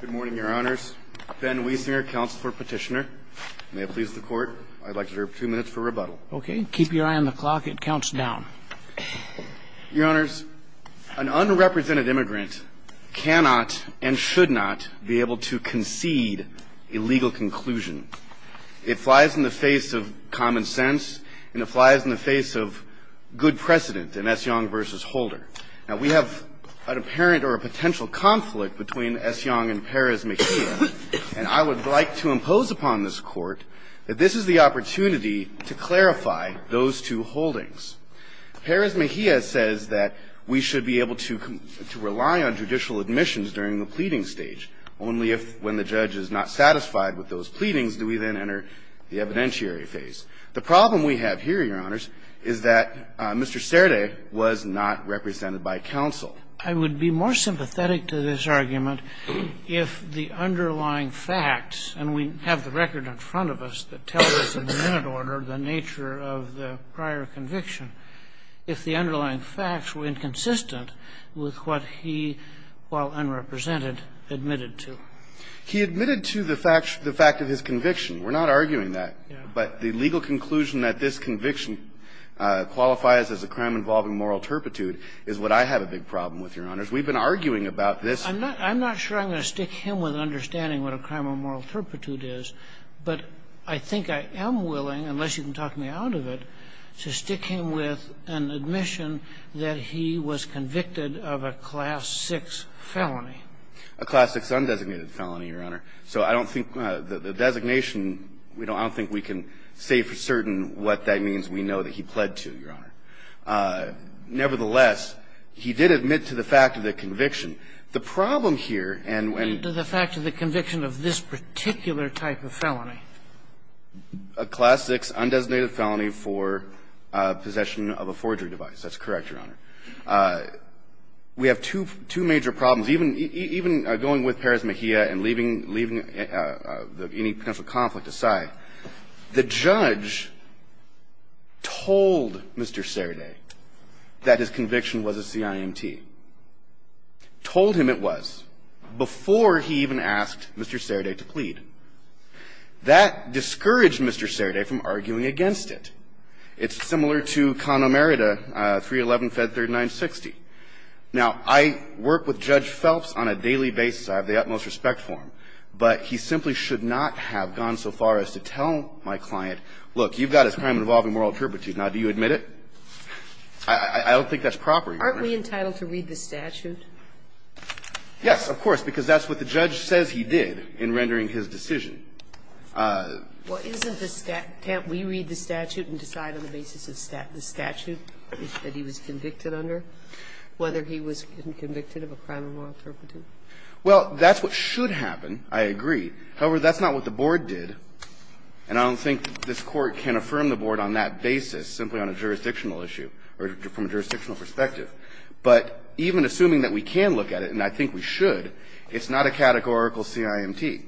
Good morning, Your Honors. Ben Wiesinger, Counselor-Petitioner. May it please the Court, I'd like to defer two minutes for rebuttal. Okay, keep your eye on the clock. It counts down. Your Honors, an unrepresented immigrant cannot and should not be able to concede a legal conclusion. It flies in the face of common sense and it flies in the face of good precedent, and that's Young v. Holder. Now, we have an apparent or a potential conflict between S. Young and Perez-Mejia, and I would like to impose upon this Court that this is the opportunity to clarify those two holdings. Perez-Mejia says that we should be able to rely on judicial admissions during the pleading stage. Only when the judge is not satisfied with those pleadings do we then enter the evidentiary phase. The problem we have here, Your Honors, is that Mr. Cerde was not represented by counsel. I would be more sympathetic to this argument if the underlying facts, and we have the record in front of us that tells us in minute order the nature of the prior conviction, if the underlying facts were inconsistent with what he, while unrepresented, admitted to. He admitted to the fact of his conviction. We're not arguing that. Yes. But the legal conclusion that this conviction qualifies as a crime involving moral turpitude is what I have a big problem with, Your Honors. We've been arguing about this. I'm not sure I'm going to stick him with understanding what a crime of moral turpitude is, but I think I am willing, unless you can talk me out of it, to stick him with an admission that he was convicted of a Class VI felony. A Class VI undesignated felony, Your Honor. So I don't think the designation, I don't think we can say for certain what that means. We know that he pled to, Your Honor. Nevertheless, he did admit to the fact of the conviction. The problem here, and when you do the fact of the conviction of this particular type of felony. A Class VI undesignated felony for possession of a forgery device. That's correct, Your Honor. We have two major problems. Even going with Perez-Mejia and leaving any potential conflict aside, the judge told Mr. Sereda that his conviction was a CIMT, told him it was, before he even asked Mr. Sereda to plead. That discouraged Mr. Sereda from arguing against it. It's similar to Con Omerita, 311-Fed 3960. Now, I work with Judge Phelps on a daily basis. I have the utmost respect for him. But he simply should not have gone so far as to tell my client, look, you've got this crime involving moral turpitude. Now, do you admit it? I don't think that's proper, Your Honor. Aren't we entitled to read the statute? Yes, of course, because that's what the judge says he did in rendering his decision. Well, isn't the statute – can't we read the statute and decide on the basis of the statute that he was convicted under, whether he was convicted of a crime of moral turpitude? Well, that's what should happen. I agree. However, that's not what the Board did. And I don't think this Court can affirm the Board on that basis simply on a jurisdictional issue or from a jurisdictional perspective. But even assuming that we can look at it, and I think we should, it's not a categorical CIMT.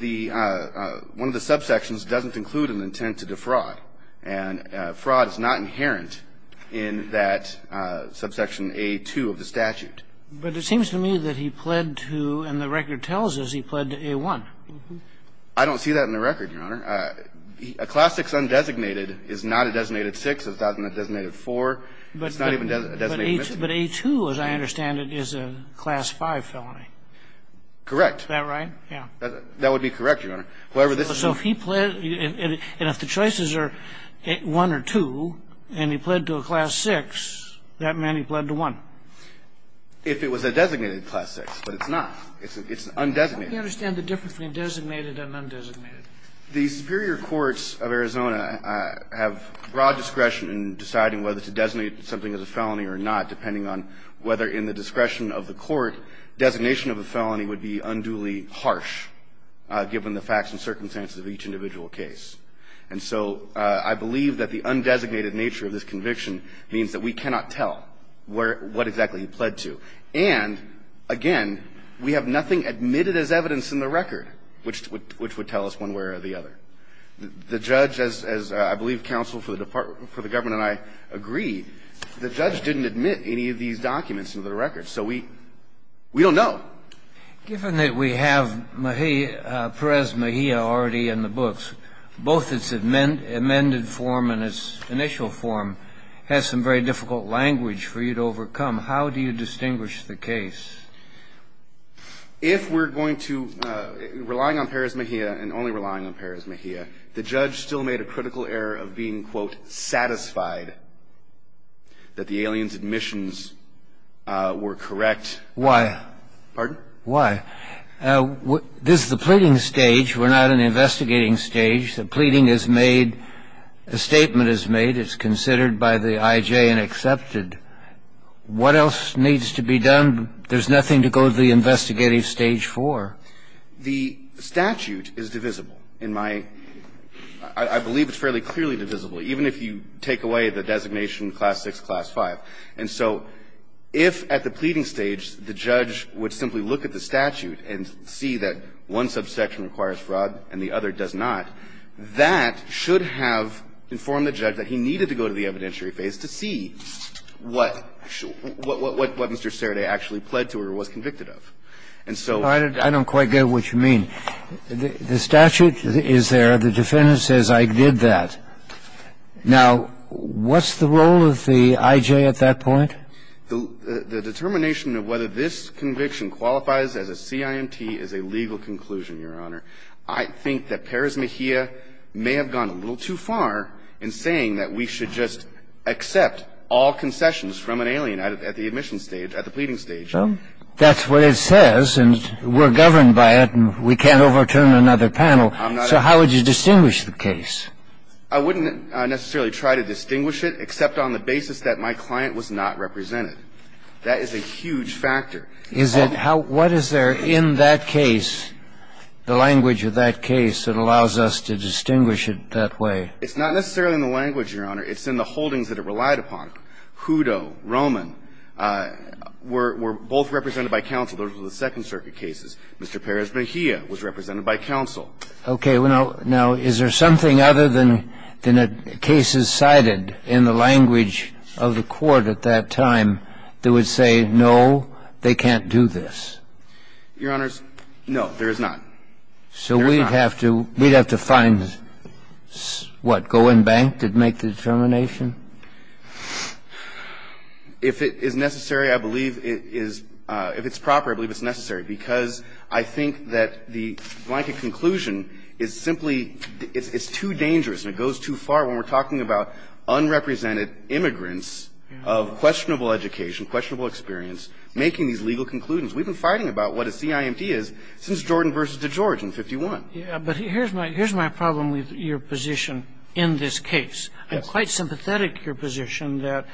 The – one of the subsections doesn't include an intent to defraud. And fraud is not inherent in that subsection A-2 of the statute. But it seems to me that he pled to – and the record tells us he pled to A-1. I don't see that in the record, Your Honor. A Class 6 undesignated is not a designated 6. It's not a designated 4. It's not even a designated 15. But A-2, as I understand it, is a Class 5 felony. Correct. Is that right? Yeah. That would be correct, Your Honor. However, this is an undesignated 6. So if he pled – and if the choices are 1 or 2, and he pled to a Class 6, that meant he pled to 1. If it was a designated Class 6, but it's not. It's undesignated. How do you understand the difference between designated and undesignated? The superior courts of Arizona have broad discretion in deciding whether to designate something as a felony or not, depending on whether in the discretion of the Court designation of a felony would be unduly harsh, given the facts and circumstances of each individual case. And so I believe that the undesignated nature of this conviction means that we cannot tell where – what exactly he pled to. And, again, we have nothing admitted as evidence in the record which would tell us one way or the other. The judge, as I believe counsel for the Department – for the government and I agree, the judge didn't admit any of these documents into the record. So we – we don't know. Given that we have Mejia – Perez-Mejia already in the books, both its amend – amended form and its initial form has some very difficult language for you to overcome. How do you distinguish the case? If we're going to – relying on Perez-Mejia and only relying on Perez-Mejia, the judge still made a critical error of being, quote, satisfied that the alien's missions were correct. Why? Pardon? Why? This is the pleading stage. We're not in the investigating stage. The pleading is made – a statement is made. It's considered by the I.J. and accepted. What else needs to be done? There's nothing to go to the investigative stage for. The statute is divisible in my – I believe it's fairly clearly divisible, even if you take away the designation class 6, class 5. And so if at the pleading stage, the judge would simply look at the statute and see that one subsection requires fraud and the other does not, that should have informed the judge that he needed to go to the evidentiary phase to see what – what Mr. Serde actually pled to or was convicted of. And so – I don't quite get what you mean. The statute is there. The defendant says I did that. Now, what's the role of the I.J. at that point? The determination of whether this conviction qualifies as a CIMT is a legal conclusion, Your Honor. I think that Perez-Mejia may have gone a little too far in saying that we should just accept all concessions from an alien at the admission stage, at the pleading stage. Well, that's what it says, and we're governed by it, and we can't overturn another panel. I'm not – So how would you distinguish the case? I wouldn't necessarily try to distinguish it, except on the basis that my client was not represented. That is a huge factor. Is it how – what is there in that case, the language of that case, that allows us to distinguish it that way? It's not necessarily in the language, Your Honor. It's in the holdings that it relied upon. Hudo, Roman were – were both represented by counsel. Those were the Second Circuit cases. Mr. Perez-Mejia was represented by counsel. Well, okay. Now, is there something other than cases cited in the language of the Court at that time that would say, no, they can't do this? Your Honors, no, there is not. So we'd have to – we'd have to find, what, go and bank to make the determination? If it is necessary, I believe it is – if it's proper, I believe it's necessary, because I think that the blanket conclusion is simply – it's too dangerous and it goes too far when we're talking about unrepresented immigrants of questionable education, questionable experience, making these legal conclusions. We've been fighting about what a CIMT is since Jordan v. DeGeorge in 51. Yeah, but here's my – here's my problem with your position in this case. I'm quite sympathetic to your position that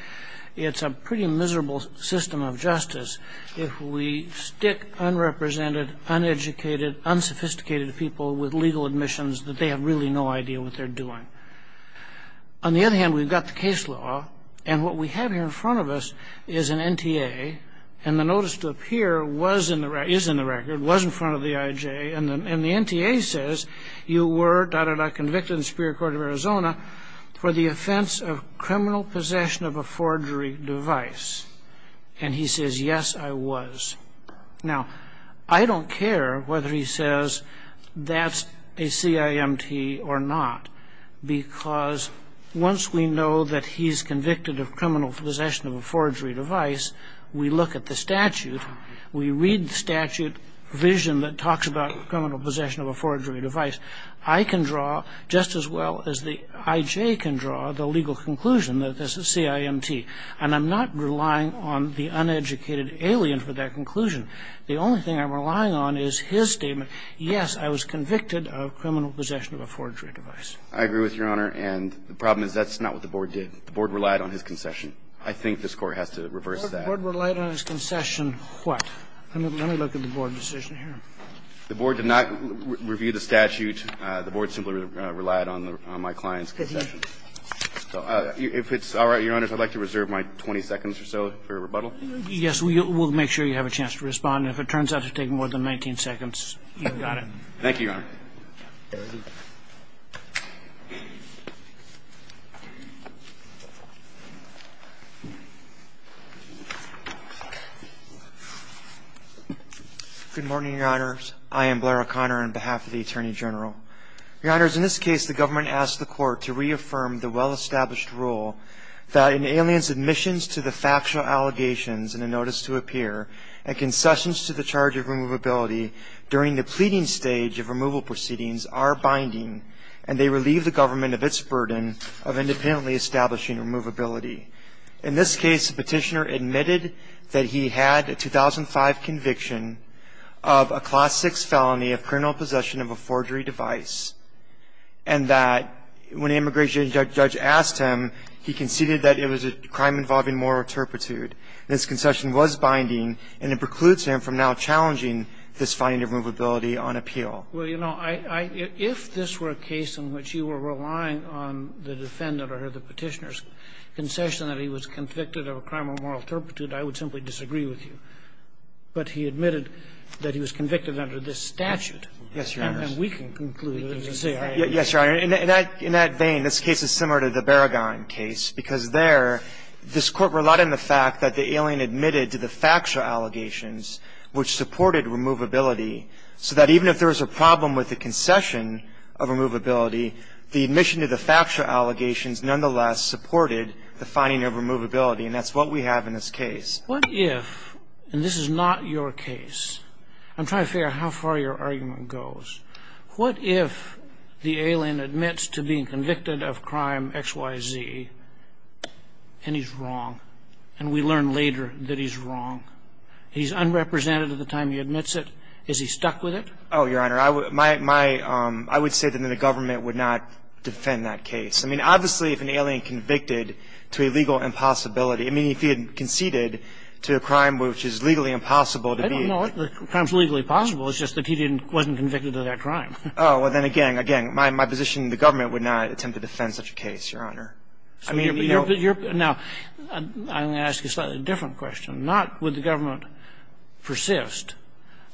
it's a pretty miserable system of justice if we stick unrepresented, uneducated, unsophisticated people with legal admissions that they have really no idea what they're doing. On the other hand, we've got the case law, and what we have here in front of us is an NTA, and the notice to appear was in the – is in the record, was in front of the IJA, and the – and the NTA says, you were, da-da-da, convicted in the Superior Court of Arizona for the offense of criminal possession of a forgery device. And he says, yes, I was. Now, I don't care whether he says that's a CIMT or not, because once we know that he's convicted of criminal possession of a forgery device, we look at the statute, we read statute vision that talks about criminal possession of a forgery device. I can draw, just as well as the IJA can draw, the legal conclusion that this is CIMT. And I'm not relying on the uneducated alien for that conclusion. The only thing I'm relying on is his statement, yes, I was convicted of criminal possession of a forgery device. I agree with Your Honor, and the problem is that's not what the Board did. The Board relied on his concession. I think this Court has to reverse that. The Board relied on his concession what? Let me look at the Board decision here. The Board simply relied on my client's concession. If it's all right, Your Honors, I'd like to reserve my 20 seconds or so for rebuttal. Yes, we'll make sure you have a chance to respond. And if it turns out to take more than 19 seconds, you've got it. Thank you, Your Honor. Good morning, Your Honors. I am Blair O'Connor on behalf of the Attorney General. Your Honors, in this case, the government asked the court to reaffirm the well-established rule that an alien's admissions to the factual allegations in a notice to appear, and concessions to the charge of removability during the pleading stage of removal proceedings are binding, and they relieve the government of its burden of independently establishing removability. In this case, the petitioner admitted that he had a 2005 conviction of a Class 6 felony of criminal possession of a forgery device, and that when the immigration judge asked him, he conceded that it was a crime involving moral turpitude. This concession was binding, and it precludes him from now challenging this finding of removability on appeal. Well, you know, I – if this were a case in which you were relying on the defendant or the petitioner's concession that he was convicted of a crime of moral turpitude, I would simply disagree with you. But he admitted that he was convicted under this statute. Yes, Your Honors. And we can conclude that it was a crime. Yes, Your Honor. In that – in that vein, this case is similar to the Barragan case, because there, this court relied on the fact that the alien admitted to the factual allegations, which supported removability, so that even if there was a problem with the concession of removability, the admission to the factual allegations nonetheless supported the finding of removability, and that's what we have in this case. What if – and this is not your case. I'm trying to figure out how far your argument goes. What if the alien admits to being convicted of crime X, Y, Z, and he's wrong, and we learn later that he's wrong? He's unrepresented at the time he admits it. Is he stuck with it? Oh, Your Honor, I would – my – I would say that the government would not defend that case. I mean, if he had conceded to a crime which is legally impossible to be – I don't know if the crime's legally possible. It's just that he didn't – wasn't convicted of that crime. Oh, well, then again – again, my position, the government would not attempt to defend such a case, Your Honor. I mean, you're – Now, I'm going to ask you a slightly different question. Not would the government persist,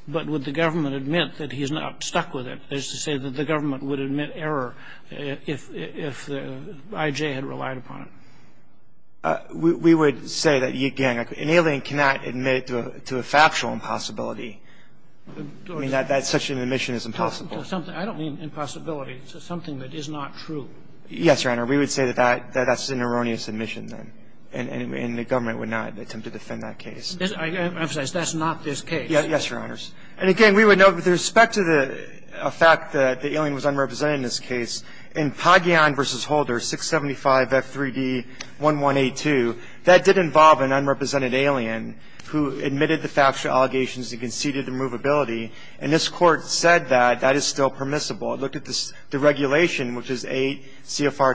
but would the government admit that he's not stuck with it, is to say that the government would admit error if – if the I.J. had relied upon it? We would say that, again, an alien cannot admit to a factual impossibility. I mean, that such an admission is impossible. I don't mean impossibility. It's something that is not true. Yes, Your Honor. We would say that that's an erroneous admission, then, and the government would not attempt to defend that case. I emphasize, that's not this case. Yes, Your Honors. And again, we would note, with respect to the fact that the alien was unrepresented in this case, in Pagian v. Holder, 675 F3D1182, that did involve an unrepresented alien who admitted the factual allegations and conceded the movability, and this Court said that that is still permissible. It looked at the regulation, which is 8 CFR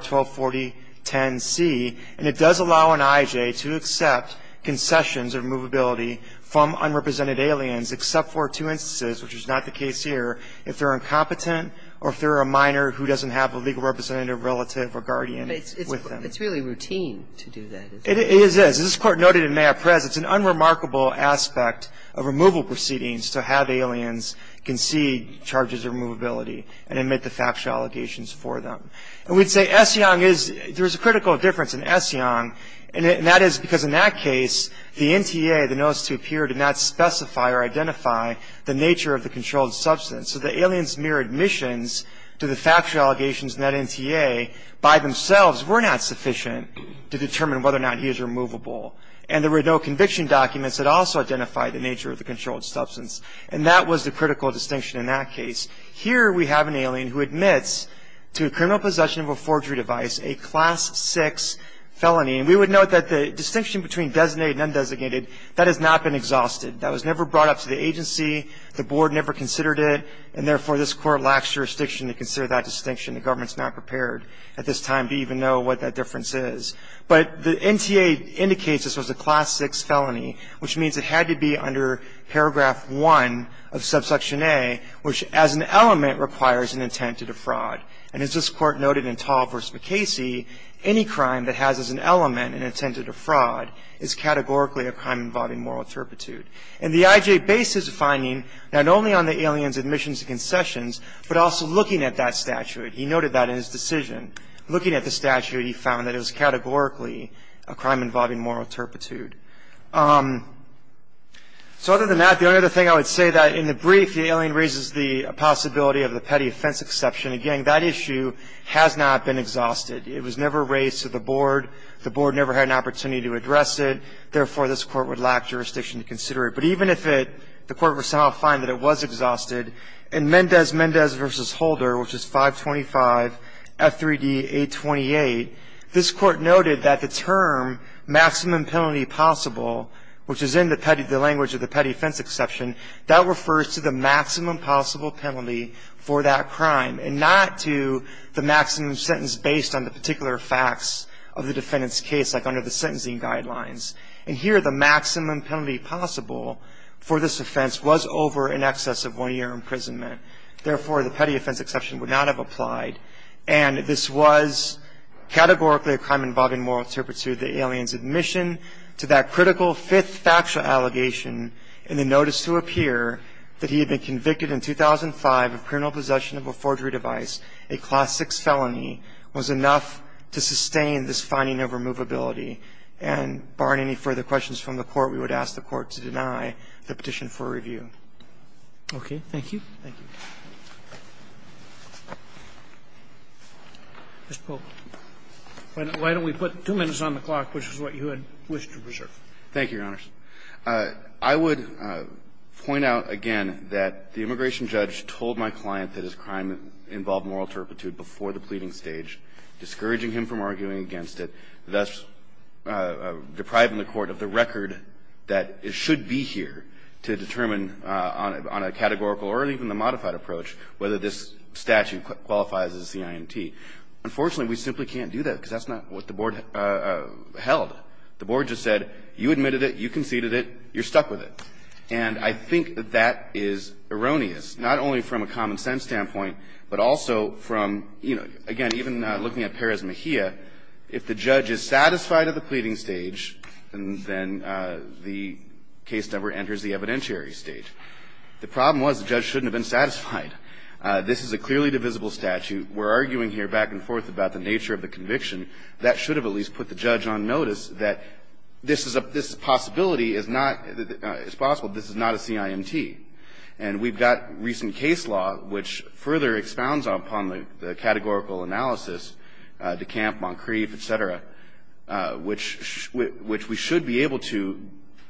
124010C, and it does allow an I.J. to accept concessions or movability from unrepresented aliens, except for two instances, which is not the case here, if they're incompetent or if they're a minor who doesn't have a legal representative, relative, or guardian with them. But it's really routine to do that, isn't it? It is. As this Court noted in Mayapres, it's an unremarkable aspect of removal proceedings to have aliens concede charges of movability and admit the factual allegations for them. And we'd say Essiong is – there's a critical difference in Essiong, and that is because in that case, the NTA, the notice to appear, did not specify or identify the nature of the controlled substance. So the alien's mere admissions to the factual allegations in that NTA by themselves were not sufficient to determine whether or not he is removable. And there were no conviction documents that also identified the nature of the controlled substance. And that was the critical distinction in that case. Here, we have an alien who admits to criminal possession of a forgery device, a Class 6 felony. And we would note that the distinction between designated and undesignated, that has not been exhausted. That was never brought up to the agency. The board never considered it. And therefore, this Court lacks jurisdiction to consider that distinction. The government's not prepared at this time to even know what that difference is. But the NTA indicates this was a Class 6 felony, which means it had to be under Paragraph 1 of Subsection A, which, as an element, requires an intent to defraud. And as this Court noted in Tall v. MacCasey, any crime that has as an element an intent to defraud is categorically a crime involving moral turpitude. And the IJ based his finding not only on the alien's admissions and concessions, but also looking at that statute. He noted that in his decision. Looking at the statute, he found that it was categorically a crime involving moral turpitude. So other than that, the only other thing I would say that in the brief, the alien raises the possibility of the petty offense exception. Again, that issue has not been exhausted. It was never raised to the board. The board never had an opportunity to address it. Therefore, this Court would lack jurisdiction to consider it. But even if it, the Court would somehow find that it was exhausted. In Mendez-Mendez v. Holder, which is 525 F3D 828, this Court noted that the term maximum penalty possible, which is in the language of the petty offense exception, that refers to the maximum possible penalty for that crime and not to the maximum sentence based on the particular facts of the defendant's case, like under the sentencing guidelines. And here, the maximum penalty possible for this offense was over in excess of one year imprisonment. Therefore, the petty offense exception would not have applied. And this was categorically a crime involving moral turpitude. The alien's admission to that critical fifth factual allegation in the notice to appear that he had been convicted in 2005 of criminal possession of a forgery device, a Class VI felony, was enough to sustain this finding of removability. And barring any further questions from the Court, we would ask the Court to deny the petition for review. Roberts. Thank you. Thank you. Mr. Polk, why don't we put two minutes on the clock, which is what you had wished to reserve. Thank you, Your Honors. I would point out again that the immigration judge told my client that his crime involved moral turpitude before the pleading stage, discouraging him from arguing against it, thus depriving the Court of the record that it should be here to determine on a categorical or even the modified approach whether this statute qualifies as a CIMT. Unfortunately, we simply can't do that, because that's not what the Board held. The Board just said, you admitted it, you conceded it, you're stuck with it. And I think that that is erroneous, not only from a common-sense standpoint, but also from, you know, again, even looking at Perez-Mejia, if the judge is satisfied at the pleading stage, and then the case never enters the evidentiary stage. The problem was the judge shouldn't have been satisfied. This is a clearly divisible statute. We're arguing here back and forth about the nature of the conviction. That should have at least put the judge on notice that this is a – this possibility is not – it's possible this is not a CIMT. And we've got recent case law which further expounds upon the categorical analysis, DeCamp, Moncrief, et cetera, which we should be able to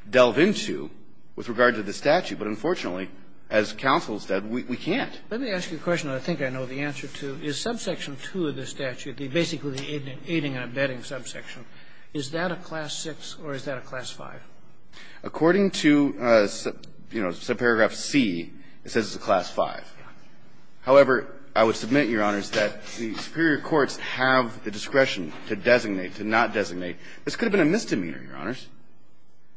delve into with regard to the statute, but unfortunately, as counsel said, we can't. Let me ask you a question I think I know the answer to. Is subsection 2 of the statute, basically the aiding and abetting subsection, is that a class 6 or is that a class 5? According to, you know, subparagraph C, it says it's a class 5. However, I would submit, Your Honors, that the superior courts have the discretion to designate, to not designate. This could have been a misdemeanor, Your Honors,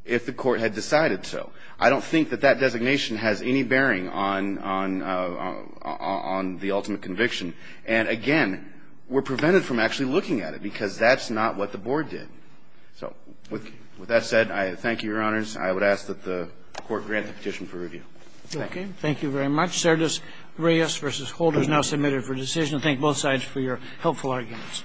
if the court had decided so. I don't think that that designation has any bearing on – on the ultimate conviction. And again, we're prevented from actually looking at it because that's not what the board did. So with that said, I thank you, Your Honors. I would ask that the Court grant the petition for review. Thank you. Thank you very much. Sergius Reyes v. Holder is now submitted for decision. I thank both sides for your helpful arguments.